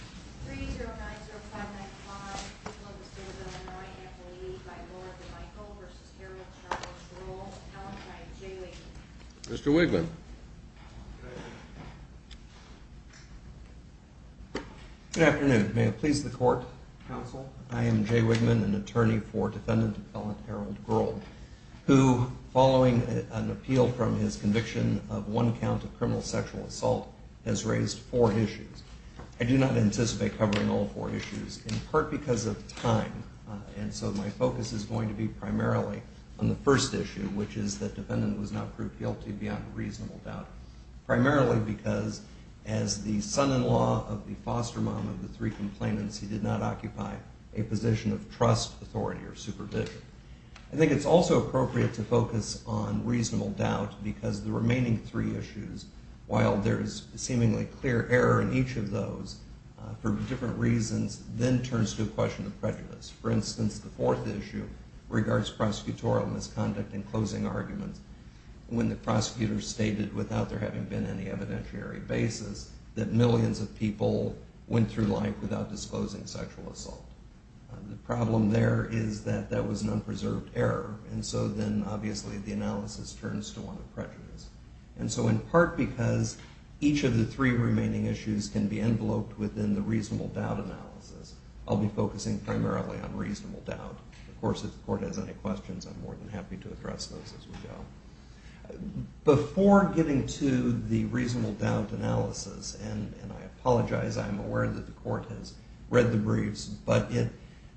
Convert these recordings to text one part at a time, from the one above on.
3-0-9-0-5-9-5. People of the State of Illinois at the lead by Laura DeMichael v. Harold Charles Groel. Alibi, Jay Wigman. Mr. Wigman. Good afternoon. May it please the Court, Counsel. I am Jay Wigman, an attorney for defendant and felon Harold Groel, who, following an appeal from his conviction of one count of criminal sexual assault, has raised four issues. I do not anticipate covering all four issues, in part because of time, and so my focus is going to be primarily on the first issue, which is that defendant was not proved guilty beyond reasonable doubt, primarily because, as the son-in-law of the foster mom of the three complainants, he did not occupy a position of trust, authority, or supervision. I think it's also appropriate to focus on reasonable doubt because the remaining three issues, while there is seemingly clear error in each of those for different reasons, then turns to a question of prejudice. For instance, the fourth issue regards prosecutorial misconduct in closing arguments when the prosecutor stated, without there having been any evidentiary basis, that millions of people went through life without disclosing sexual assault. The problem there is that that was an unpreserved error, And so in part because each of the three remaining issues can be enveloped within the reasonable doubt analysis, I'll be focusing primarily on reasonable doubt. Of course, if the court has any questions, I'm more than happy to address those as we go. Before getting to the reasonable doubt analysis, and I apologize, I'm aware that the court has read the briefs, but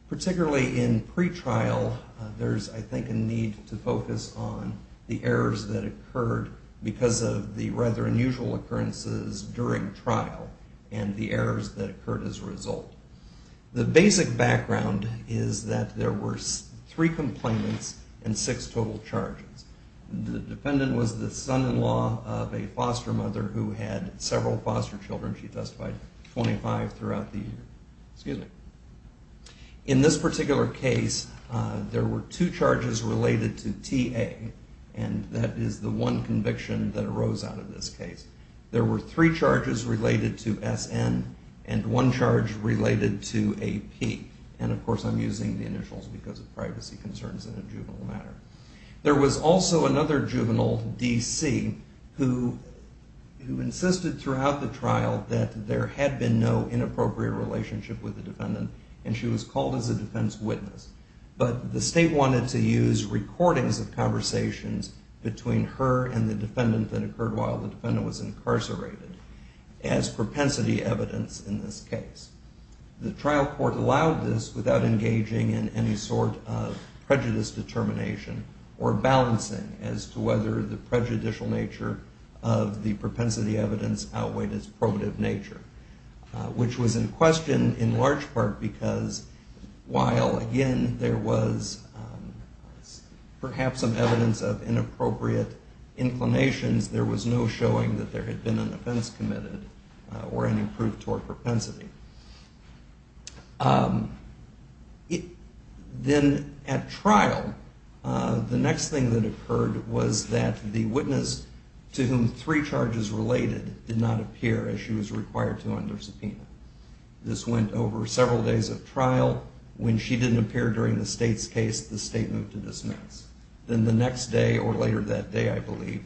particularly in pretrial, there's, I think, a need to focus on the errors that occurred because of the rather unusual occurrences during trial and the errors that occurred as a result. The basic background is that there were three complainants and six total charges. The defendant was the son-in-law of a foster mother who had several foster children. She testified 25 throughout the year. In this particular case, there were two charges related to TA, and that is the one conviction that arose out of this case. There were three charges related to SN and one charge related to AP. And, of course, I'm using the initials because of privacy concerns in a juvenile matter. There was also another juvenile, DC, who insisted throughout the trial that there had been no inappropriate relationship with the defendant, and she was called as a defense witness. But the state wanted to use recordings of conversations between her and the defendant that occurred while the defendant was incarcerated as propensity evidence in this case. The trial court allowed this without engaging in any sort of prejudice determination or balancing as to whether the prejudicial nature of the propensity evidence outweighed its probative nature, which was in question in large part because while, again, there was perhaps some evidence of inappropriate inclinations, there was no showing that there had been an offense committed or any proof toward propensity. Then at trial, the next thing that occurred was that the witness to whom three charges related did not appear as she was required to under subpoena. This went over several days of trial. When she didn't appear during the state's case, the state moved to dismiss. Then the next day or later that day, I believe,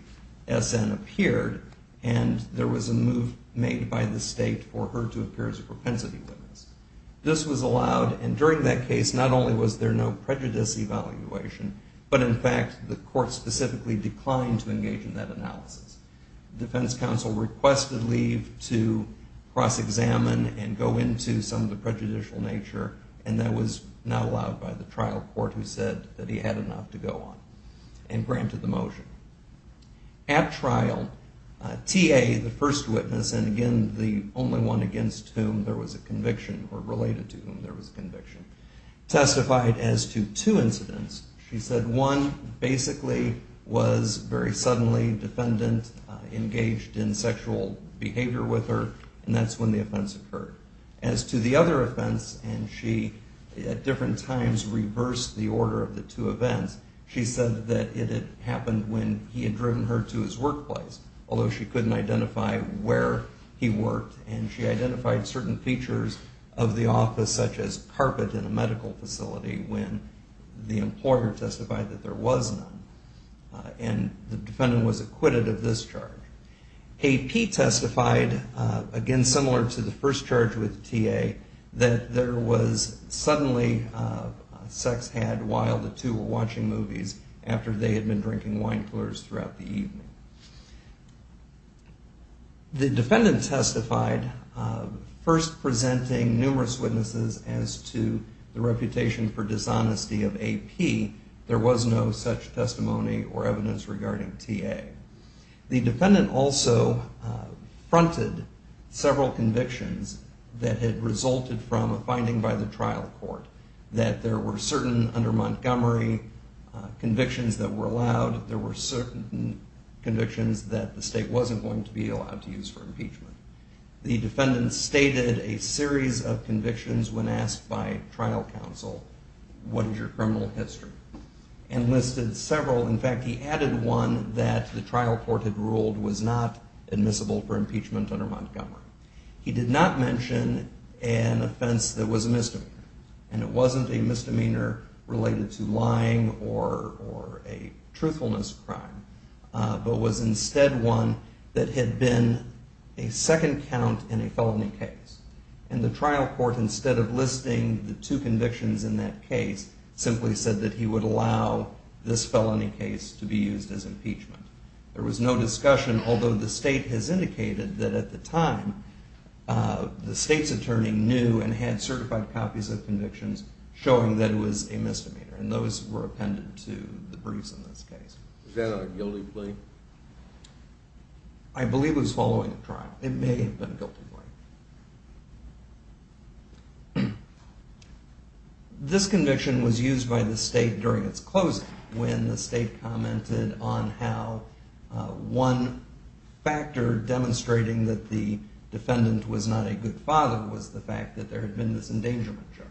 SN appeared, and there was a move made by the state for her to appear as a propensity witness. This was allowed, and during that case, not only was there no prejudice evaluation, but in fact the court specifically declined to engage in that analysis. The defense counsel requested leave to cross-examine and go into some of the prejudicial nature, and that was not allowed by the trial court who said that he had enough to go on and granted the motion. At trial, TA, the first witness, and again the only one against whom there was a conviction or related to whom there was a conviction, testified as to two incidents. She said one basically was very suddenly defendant engaged in sexual behavior with her, and that's when the offense occurred. As to the other offense, and she at different times reversed the order of the two events, she said that it had happened when he had driven her to his workplace, although she couldn't identify where he worked, and she identified certain features of the office such as carpet in a medical facility when the employer testified that there was none, and the defendant was acquitted of this charge. AP testified, again similar to the first charge with TA, that there was suddenly sex had while the two were watching movies after they had been drinking wine pours throughout the evening. The defendant testified, first presenting numerous witnesses as to the reputation for dishonesty of AP. There was no such testimony or evidence regarding TA. The defendant also fronted several convictions that had resulted from a finding by the trial court that there were certain under Montgomery convictions that were allowed, there were certain convictions that the state wasn't going to be allowed to use for impeachment. The defendant stated a series of convictions when asked by trial counsel, what is your criminal history, and listed several. In fact, he added one that the trial court had ruled was not admissible for impeachment under Montgomery. He did not mention an offense that was a misdemeanor, and it wasn't a misdemeanor related to lying or a truthfulness crime, but was instead one that had been a second count in a felony case, and the trial court, instead of listing the two convictions in that case, simply said that he would allow this felony case to be used as impeachment. There was no discussion, although the state has indicated that at the time, the state's attorney knew and had certified copies of convictions showing that it was a misdemeanor, and those were appended to the briefs in this case. Was that on a guilty plea? I believe it was following a trial. It may have been a guilty plea. This conviction was used by the state during its closing, when the state commented on how one factor demonstrating that the defendant was not a good father was the fact that there had been this endangerment charge,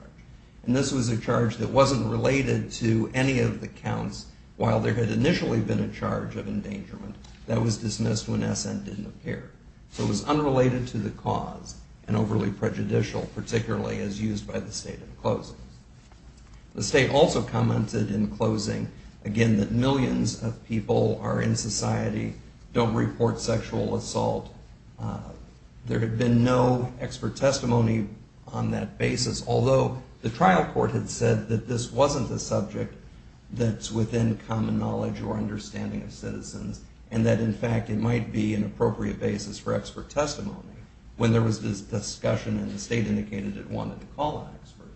and this was a charge that wasn't related to any of the counts while there had initially been a charge of endangerment that was dismissed when SN didn't appear. So it was unrelated to the cause and overly prejudicial, particularly as used by the state in closing. The state also commented in closing, again, that millions of people are in society, don't report sexual assault. There had been no expert testimony on that basis, although the trial court had said that this wasn't the subject that's within common knowledge or understanding of citizens, and that, in fact, it might be an appropriate basis for expert testimony when there was this discussion and the state indicated it wanted to call an expert.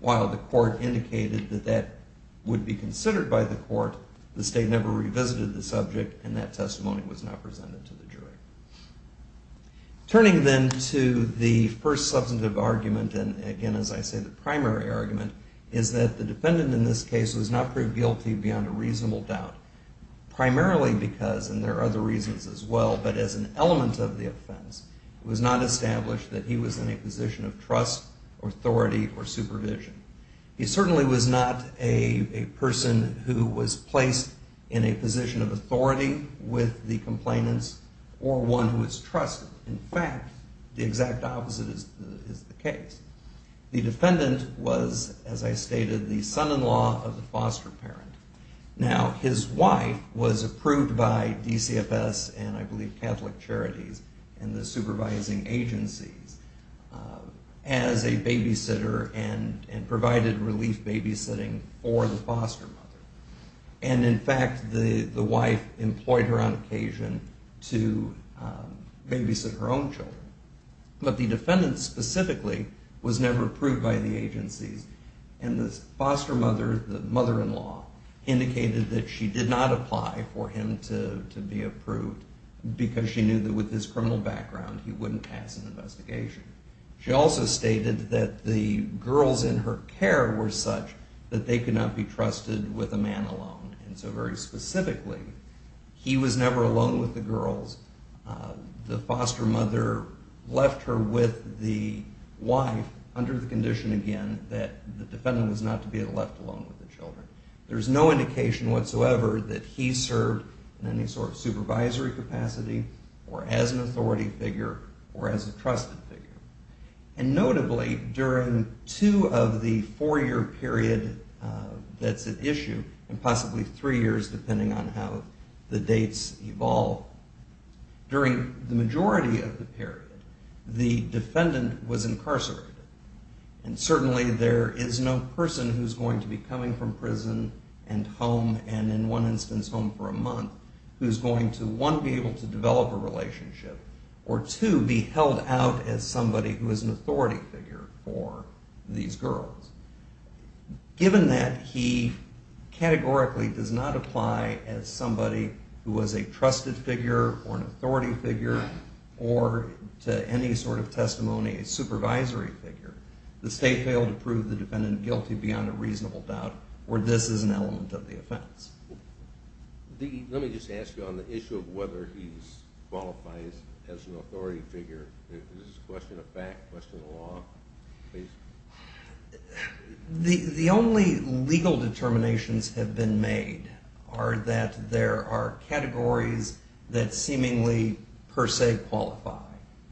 While the court indicated that that would be considered by the court, the state never revisited the subject, and that testimony was not presented to the jury. Turning then to the first substantive argument, and again, as I say, the primary argument, is that the defendant in this case was not proved guilty beyond a reasonable doubt, primarily because, and there are other reasons as well, but as an element of the offense, it was not established that he was in a position of trust or authority or supervision. He certainly was not a person who was placed in a position of authority with the complainants or one who was trusted. In fact, the exact opposite is the case. The defendant was, as I stated, the son-in-law of the foster parent. Now, his wife was approved by DCFS and, I believe, Catholic Charities and the supervising agencies as a babysitter and provided relief babysitting for the foster mother. And, in fact, the wife employed her on occasion to babysit her own children. But the defendant specifically was never approved by the agencies, and the foster mother, the mother-in-law, indicated that she did not apply for him to be approved because she knew that with his criminal background he wouldn't pass an investigation. She also stated that the girls in her care were such that they could not be trusted with a man alone. And so, very specifically, he was never alone with the girls. The foster mother left her with the wife under the condition, again, that the defendant was not to be left alone with the children. There's no indication whatsoever that he served in any sort of supervisory capacity or as an authority figure or as a trusted figure. And, notably, during two of the four-year period that's at issue, and possibly three years depending on how the dates evolve, during the majority of the period the defendant was incarcerated. And, certainly, there is no person who's going to be coming from prison and home, and in one instance home for a month, who's going to, one, be able to develop a relationship, or, two, be held out as somebody who is an authority figure for these girls. Given that he categorically does not apply as somebody who was a trusted figure or an authority figure or, to any sort of testimony, a supervisory figure, the state failed to prove the defendant guilty beyond a reasonable doubt where this is an element of the offense. Let me just ask you on the issue of whether he qualifies as an authority figure. Is this a question of fact, question of law? The only legal determinations have been made are that there are categories that seemingly per se qualify,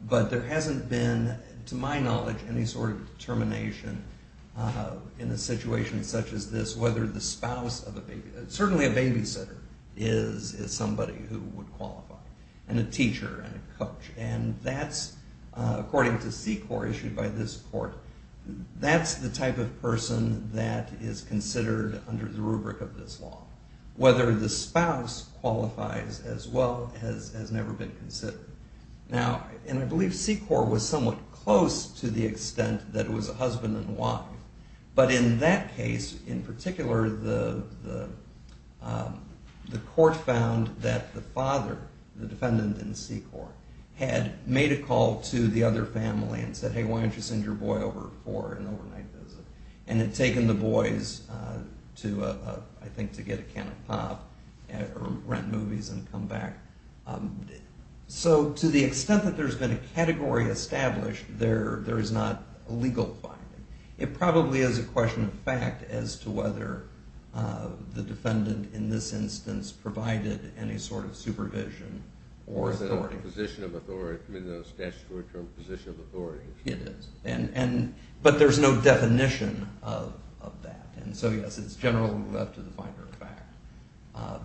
but there hasn't been, to my knowledge, any sort of determination in a situation such as this whether the spouse of a baby, certainly a babysitter is somebody who would qualify, and a teacher, and a coach. And that's, according to SECOR issued by this court, that's the type of person that is considered under the rubric of this law. Whether the spouse qualifies as well has never been considered. Now, and I believe SECOR was somewhat close to the extent that it was a husband and wife, but in that case, in particular, the court found that the father, the defendant in SECOR, had made a call to the other family and said, hey, why don't you send your boy over for an overnight visit, and had taken the boys to, I think, to get a can of pop or rent movies and come back. So to the extent that there's been a category established, there is not a legal finding. It probably is a question of fact as to whether the defendant in this instance provided any sort of supervision or authority. Or the position of authority, the statutory term position of authority. It is. But there's no definition of that. And so, yes, it's generally left to the finder of fact.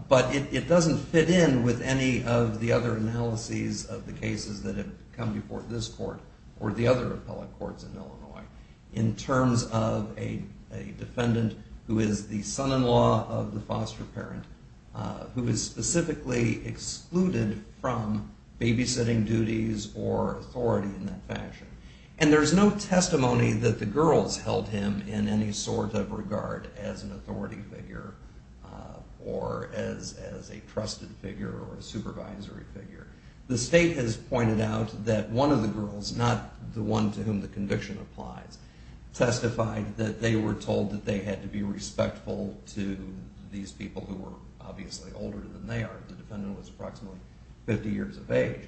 But it doesn't fit in with any of the other analyses of the cases that have come before this court or the other appellate courts in Illinois in terms of a defendant who is the son-in-law of the foster parent who is specifically excluded from babysitting duties or authority in that fashion. And there's no testimony that the girls held him in any sort of regard as an authority figure or as a trusted figure or a supervisory figure. The state has pointed out that one of the girls, not the one to whom the conviction applies, testified that they were told that they had to be respectful to these people who were obviously older than they are. The defendant was approximately 50 years of age.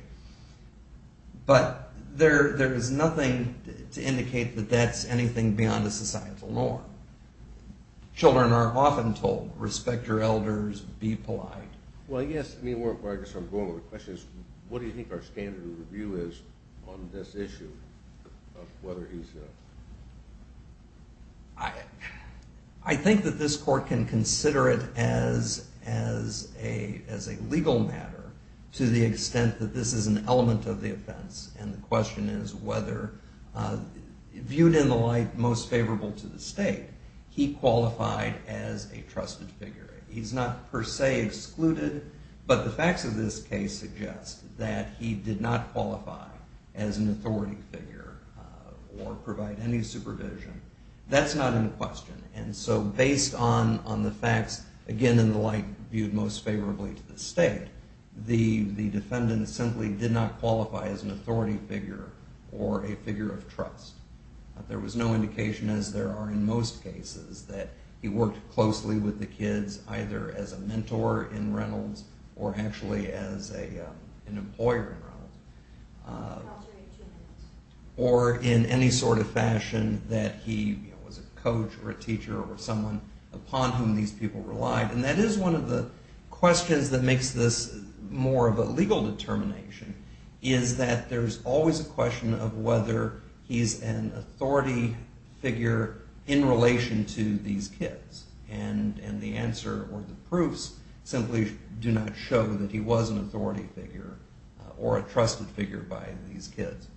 But there is nothing to indicate that that's anything beyond the societal norm. Children are often told, respect your elders, be polite. Well, yes, I mean, where I guess I'm going with the question is, what do you think our standard of review is on this issue of whether he's a... I think that this court can consider it as a legal matter to the extent that this is an element of the offense. And the question is whether, viewed in the light most favorable to the state, he qualified as a trusted figure. He's not per se excluded. But the facts of this case suggest that he did not qualify as an authority figure or provide any supervision. That's not in question. And so based on the facts, again, in the light viewed most favorably to the state, the defendant simply did not qualify as an authority figure or a figure of trust. There was no indication, as there are in most cases, that he worked closely with the kids either as a mentor in Reynolds or actually as an employer in Reynolds. Or in any sort of fashion that he was a coach or a teacher or someone upon whom these people relied. And that is one of the questions that makes this more of a legal determination is that there's always a question of whether he's an authority figure in relation to these kids. And the answer or the proofs simply do not show that he was an authority figure or a trusted figure by these kids.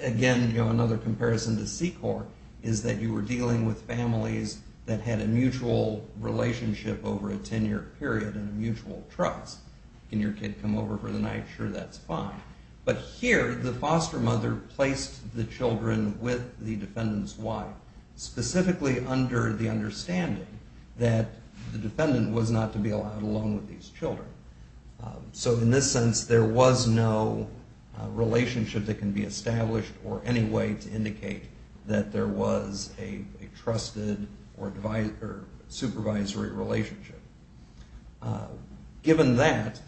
Again, another comparison to SECOR is that you were dealing with families that had a mutual relationship over a 10-year period and a mutual trust. Can your kid come over for the night? Sure, that's fine. But here, the foster mother placed the children with the defendant's wife specifically under the understanding that the defendant was not to be allowed alone with these children. So in this sense, there was no relationship that can be established or any way to indicate that there was a trusted or supervisory relationship. Given that,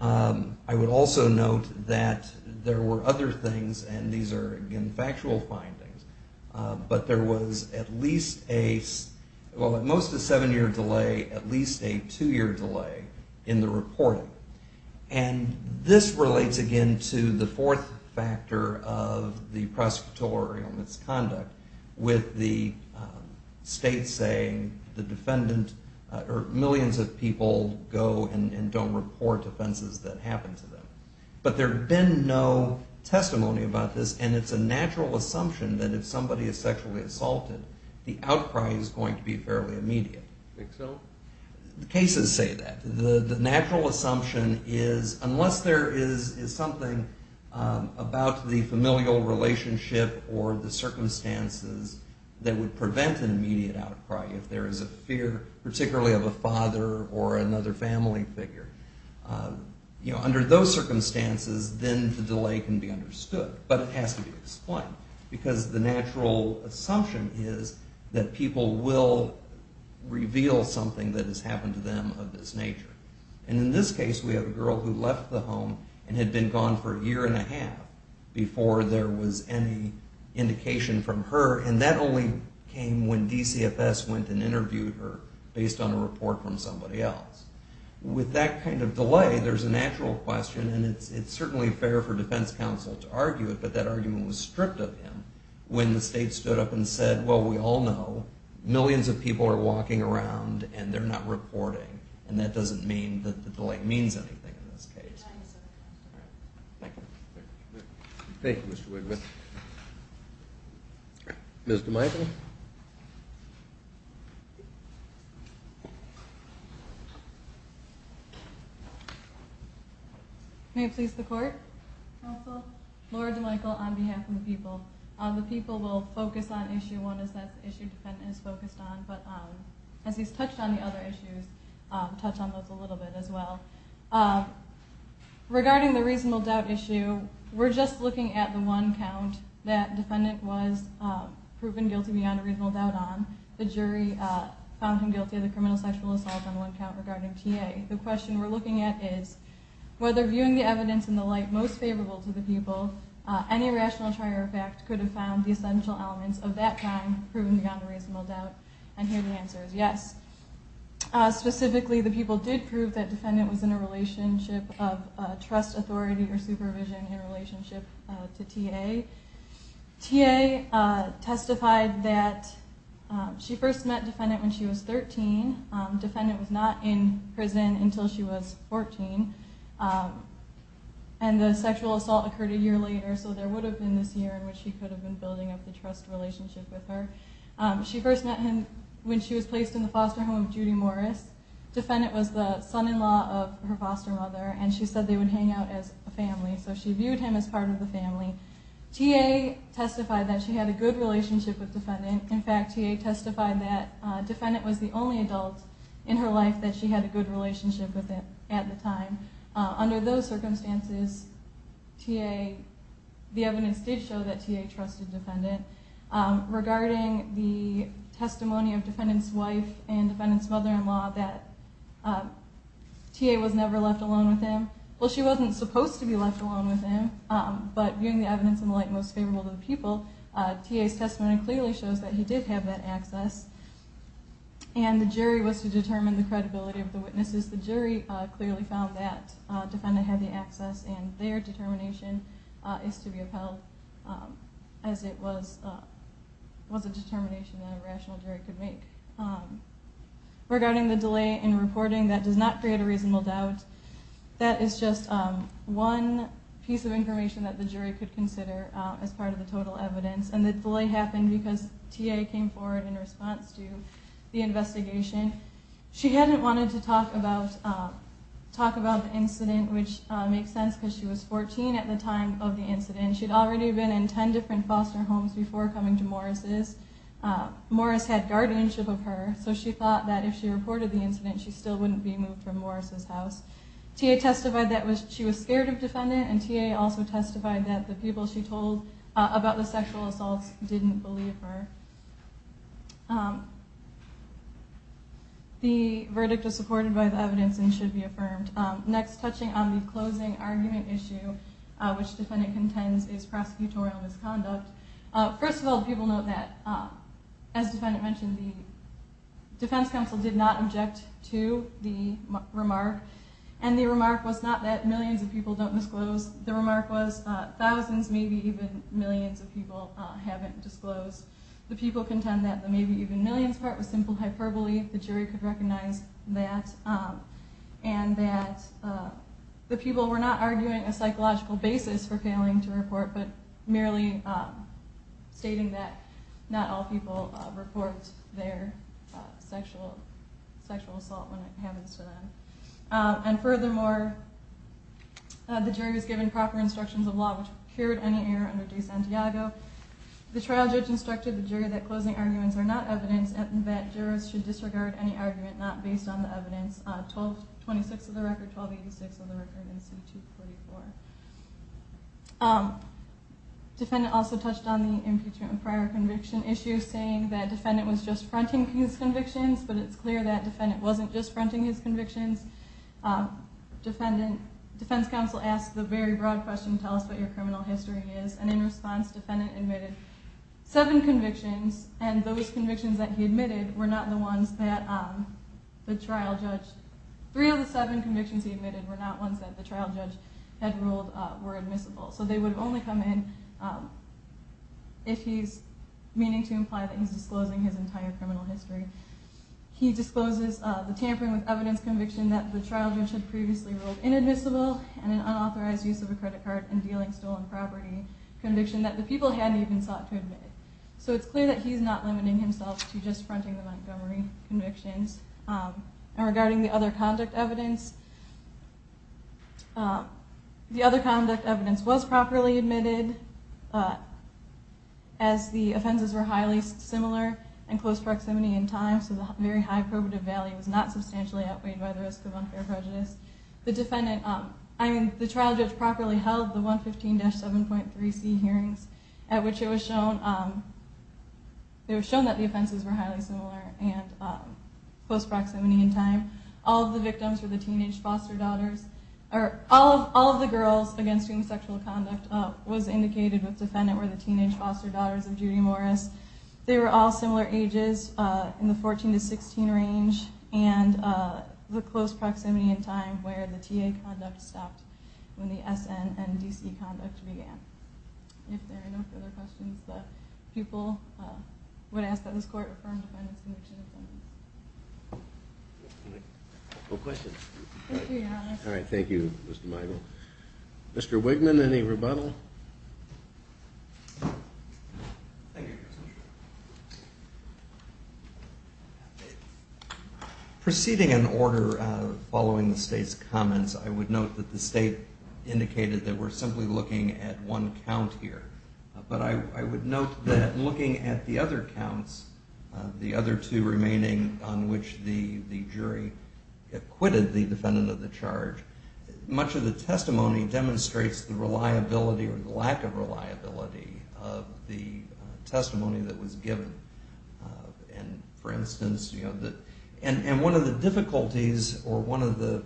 I would also note that there were other things, and these are, again, factual findings. But there was at least a, well, at most a seven-year delay, at least a two-year delay in the reporting. And this relates, again, to the fourth factor of the prosecutorial misconduct with the state saying the defendant or millions of people go and don't report offenses that happen to them. But there had been no testimony about this, and it's a natural assumption that if somebody is sexually assaulted, the outcry is going to be fairly immediate. I think so. Cases say that. The natural assumption is unless there is something about the familial relationship or the circumstances that would prevent an immediate outcry, if there is a fear particularly of a father or another family figure, under those circumstances, then the delay can be understood. But it has to be explained because the natural assumption is that people will reveal something that has happened to them of this nature. And in this case, we have a girl who left the home and had been gone for a year and a half before there was any indication from her, and that only came when DCFS went and interviewed her based on a report from somebody else. With that kind of delay, there's a natural question, and it's certainly fair for defense counsel to argue it, but that argument was stripped of him when the state stood up and said, well, we all know millions of people are walking around and they're not reporting, and that doesn't mean that the delay means anything in this case. Thank you. Thank you, Mr. Wigman. Ms. DeMichael? May it please the Court? Counsel, Laura DeMichael on behalf of the people. The people will focus on Issue 1, as that's the issue the defendant is focused on, but as he's touched on the other issues, I'll touch on those a little bit as well. Regarding the reasonable doubt issue, we're just looking at the one count that defendant was proven guilty beyond a reasonable doubt on. The jury found him guilty of the criminal sexual assault on one count regarding TA. The question we're looking at is whether, viewing the evidence in the light most favorable to the people, any rational trier of fact could have found the essential elements of that crime proven beyond a reasonable doubt, and here the answer is yes. Specifically, the people did prove that defendant was in a relationship of trust, authority, or supervision in relationship to TA. TA testified that she first met defendant when she was 13. Defendant was not in prison until she was 14. And the sexual assault occurred a year later, so there would have been this year in which he could have been building up the trust relationship with her. She first met him when she was placed in the foster home of Judy Morris. Defendant was the son-in-law of her foster mother, and she said they would hang out as a family, so she viewed him as part of the family. TA testified that she had a good relationship with defendant. In fact, TA testified that defendant was the only adult in her life that she had a good relationship with at the time. Under those circumstances, the evidence did show that TA trusted defendant. Regarding the testimony of defendant's wife and defendant's mother-in-law that TA was never left alone with him, well, she wasn't supposed to be left alone with him, but viewing the evidence in the light most favorable to the people, TA's testimony clearly shows that he did have that access, and the jury was to determine the credibility of the witnesses. The jury clearly found that defendant had the access, and their determination is to be upheld as it was a determination that a rational jury could make. Regarding the delay in reporting, that does not create a reasonable doubt. That is just one piece of information that the jury could consider as part of the total evidence, and the delay happened because TA came forward in response to the investigation. She hadn't wanted to talk about the incident, which makes sense because she was 14 at the time of the incident. She'd already been in 10 different foster homes before coming to Morris'. Morris' had guardianship of her, so she thought that if she reported the incident, she still wouldn't be moved from Morris' house. TA testified that she was scared of defendant, and TA also testified that the people she told about the sexual assaults didn't believe her. The verdict is supported by the evidence and should be affirmed. Next, touching on the closing argument issue, which defendant contends is prosecutorial misconduct. First of all, people note that, as the defendant mentioned, the defense counsel did not object to the remark, and the remark was not that millions of people don't disclose. The remark was thousands, maybe even millions of people haven't disclosed. The people contend that the maybe even millions part was simple hyperbole, the jury could recognize that, and that the people were not arguing a psychological basis for failing to report, but merely stating that not all people report their sexual assault when it happens to them. And furthermore, the jury was given proper instructions of law, which cured any error under DeSantiago. The trial judge instructed the jury that closing arguments are not evidence, and that jurors should disregard any argument not based on the evidence. 1226 of the record, 1286 of the record, and C244. Defendant also touched on the impeachment and prior conviction issue, saying that defendant was just fronting his convictions, but it's clear that defendant wasn't just fronting his convictions. Defense counsel asked the very broad question, tell us what your criminal history is, and in response defendant admitted seven convictions, and those convictions that he admitted were not the ones that the trial judge, three of the seven convictions he admitted were not ones that the trial judge had ruled were admissible. So they would only come in if he's meaning to imply that he's disclosing his entire criminal history. He discloses the tampering with evidence conviction that the trial judge had previously ruled inadmissible, and an unauthorized use of a credit card in dealing stolen property conviction that the people hadn't even sought to admit. So it's clear that he's not limiting himself to just fronting the Montgomery convictions. And regarding the other conduct evidence, the other conduct evidence was properly admitted, as the offenses were highly similar in close proximity and time, so the very high probative value was not substantially outweighed by the risk of unfair prejudice. The trial judge properly held the 115-7.3C hearings, at which it was shown that the offenses were highly similar in close proximity and time. All of the victims were the teenage foster daughters, or all of the girls against whom sexual conduct was indicated with defendant were the teenage foster daughters of Judy Morris. They were all similar ages in the 14 to 16 range, and the close proximity and time where the T.A. conduct stopped when the S.N. and D.C. conduct began. If there are no further questions, the people would ask that this court affirm the defendant's conviction. No questions? Thank you, Your Honor. All right, thank you, Mr. Michael. Mr. Wigman, any rebuttal? Thank you, Your Honor. Proceeding in order following the State's comments, I would note that the State indicated that we're simply looking at one count here, but I would note that looking at the other counts, the other two remaining on which the jury acquitted the defendant of the charge, much of the testimony demonstrates the reliability or the lack of reliability of the testimony that was given. For instance, one of the difficulties or one of the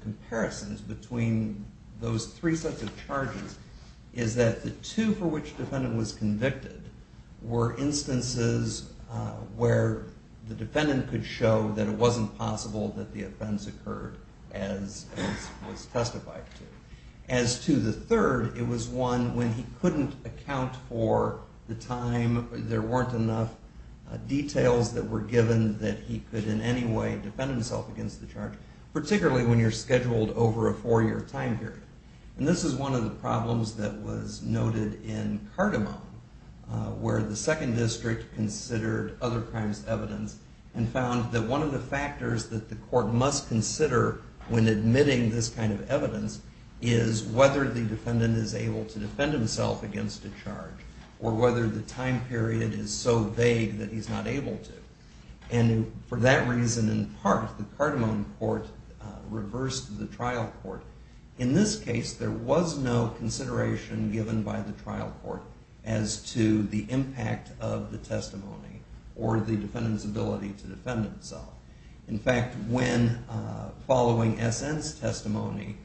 comparisons between those three sets of charges is that the two for which the defendant was convicted were instances where the defendant could show that it wasn't possible that the offense occurred as was testified to. As to the third, it was one when he couldn't account for the time, there weren't enough details that were given that he could in any way defend himself against the charge, particularly when you're scheduled over a four-year time period. And this is one of the problems that was noted in Cardamom, where the second district considered other crimes' evidence and found that one of the factors that the court must consider when admitting this kind of evidence is whether the defendant is able to defend himself against a charge or whether the time period is so vague that he's not able to. And for that reason, in part, the Cardamom court reversed the trial court. In this case, there was no consideration given by the trial court as to the impact of the testimony or the defendant's ability to defend himself. In fact, when following SN's testimony,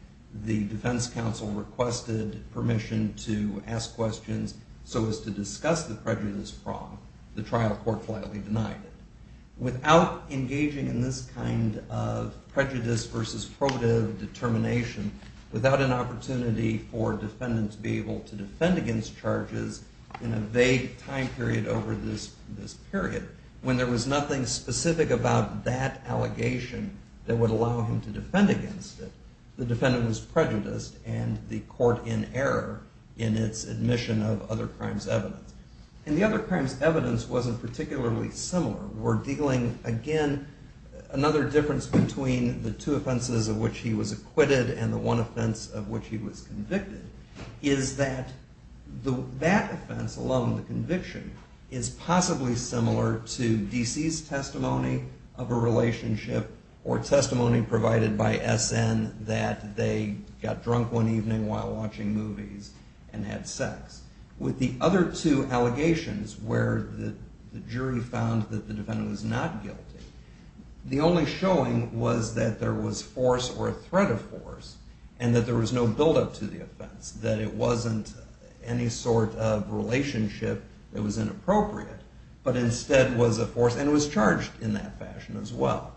the defense counsel requested permission to ask questions so as to discuss the prejudice problem. The trial court flatly denied it. Without engaging in this kind of prejudice versus protive determination, without an opportunity for a defendant to be able to defend against charges in a vague time period over this period, when there was nothing specific about that allegation that would allow him to defend against it, the defendant was prejudiced and the court in error in its admission of other crimes' evidence. And the other crimes' evidence wasn't particularly similar. We're dealing, again, another difference between the two offenses of which he was acquitted and the one offense of which he was convicted, is that that offense, along with the conviction, is possibly similar to DC's testimony of a relationship or testimony provided by SN that they got drunk one evening while watching movies and had sex. With the other two allegations where the jury found that the defendant was not guilty, the only showing was that there was force or a threat of force and that there was no buildup to the offense, that it wasn't any sort of relationship that was inappropriate, but instead was a force and was charged in that fashion as well.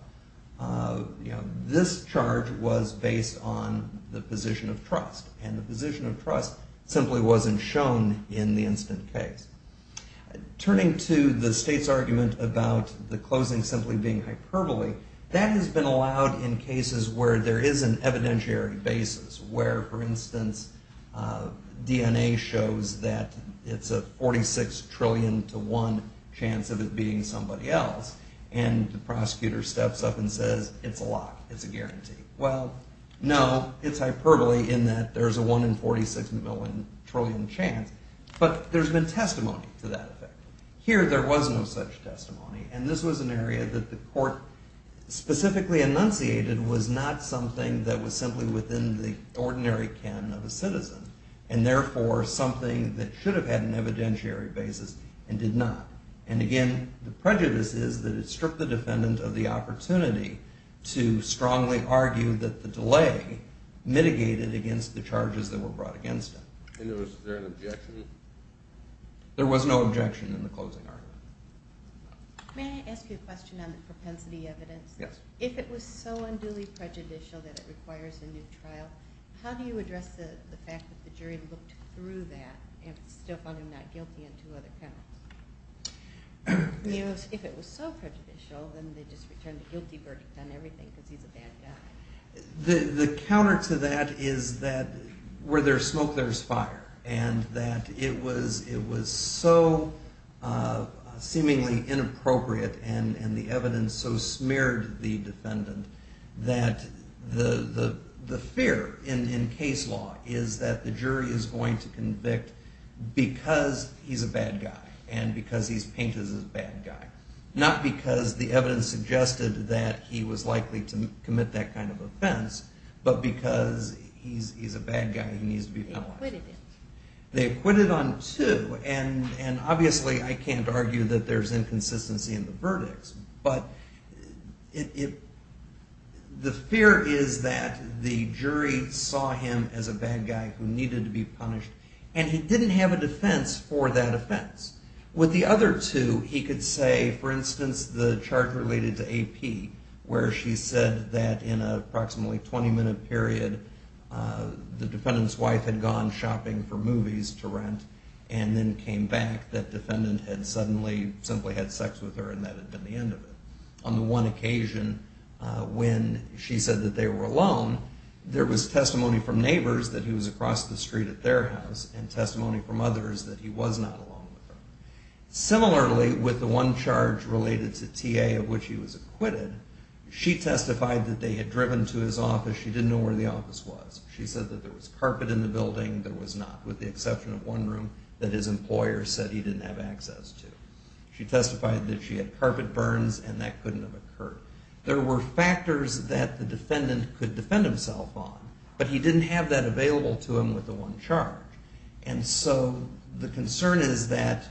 This charge was based on the position of trust, and the position of trust simply wasn't shown in the incident case. Turning to the state's argument about the closing simply being hyperbole, that has been allowed in cases where there is an evidentiary basis, where, for instance, DNA shows that it's a 46 trillion to one chance of it being somebody else, and the prosecutor steps up and says, it's a lock, it's a guarantee. Well, no, it's hyperbole in that there's a one in 46 trillion chance, but there's been testimony to that effect. Here, there was no such testimony, and this was an area that the court specifically enunciated was not something that was simply within the ordinary canon of a citizen, and therefore something that should have had an evidentiary basis and did not. And again, the prejudice is that it stripped the defendant of the opportunity to strongly argue that the delay mitigated against the charges that were brought against him. And was there an objection? There was no objection in the closing argument. May I ask you a question on the propensity evidence? Yes. If it was so unduly prejudicial that it requires a new trial, how do you address the fact that the jury looked through that and still found him not guilty on two other penalties? If it was so prejudicial, then they just returned a guilty verdict on everything because he's a bad guy. The counter to that is that where there's smoke, there's fire, and that it was so seemingly inappropriate and the evidence so smeared the defendant that the fear in case law is that the jury is going to convict because he's a bad guy, and because he's painted as a bad guy. Not because the evidence suggested that he was likely to commit that kind of offense, but because he's a bad guy and he needs to be punished. They acquitted him. They acquitted on two, and obviously I can't argue that there's inconsistency in the verdicts, but the fear is that the jury saw him as a bad guy who needed to be punished, and he didn't have a defense for that offense. With the other two, he could say, for instance, the charge related to AP, where she said that in an approximately 20-minute period, the defendant's wife had gone shopping for movies to rent and then came back that defendant had suddenly, simply had sex with her and that had been the end of it. On the one occasion when she said that they were alone, there was testimony from neighbors that he was across the street at their house and testimony from others that he was not alone with her. Similarly, with the one charge related to TA, of which he was acquitted, she testified that they had driven to his office. She didn't know where the office was. She said that there was carpet in the building. There was not, with the exception of one room that his employer said he didn't have access to. She testified that she had carpet burns and that couldn't have occurred. There were factors that the defendant could defend himself on, but he didn't have that available to him with the one charge. And so the concern is that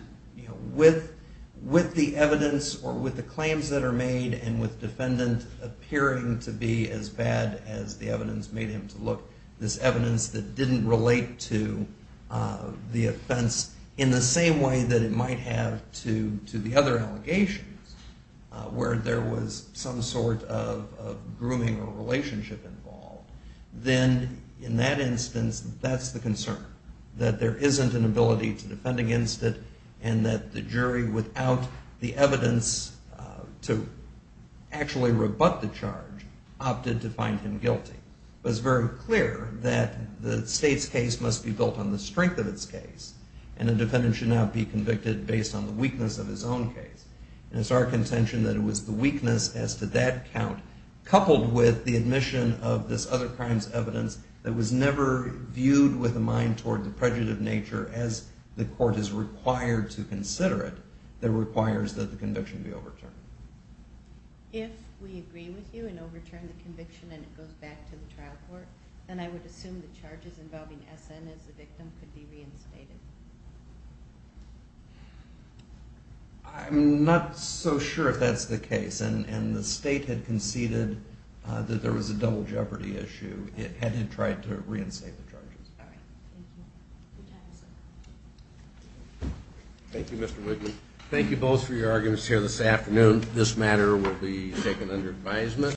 with the evidence or with the claims that are made and with defendant appearing to be as bad as the evidence made him to look, this evidence that didn't relate to the offense in the same way that it might have to the other allegations where there was some sort of grooming or relationship involved, then in that instance that's the concern, that there isn't an ability to defend against it and that the jury, without the evidence to actually rebut the charge, opted to find him guilty. It was very clear that the state's case must be built on the strength of its case and the defendant should not be convicted based on the weakness of his own case. And it's our contention that it was the weakness as to that count coupled with the admission of this other crime's evidence that was never viewed with a mind toward the prejudiced nature as the court is required to consider it that requires that the conviction be overturned. If we agree with you and overturn the conviction and it goes back to the trial court, then I would assume the charges involving S.N. as the victim could be reinstated. I'm not so sure if that's the case. And the state had conceded that there was a double jeopardy issue had it tried to reinstate the charges. All right. Thank you. Good job, sir. Thank you, Mr. Wigman. Thank you both for your arguments here this afternoon. This matter will be taken under advisement.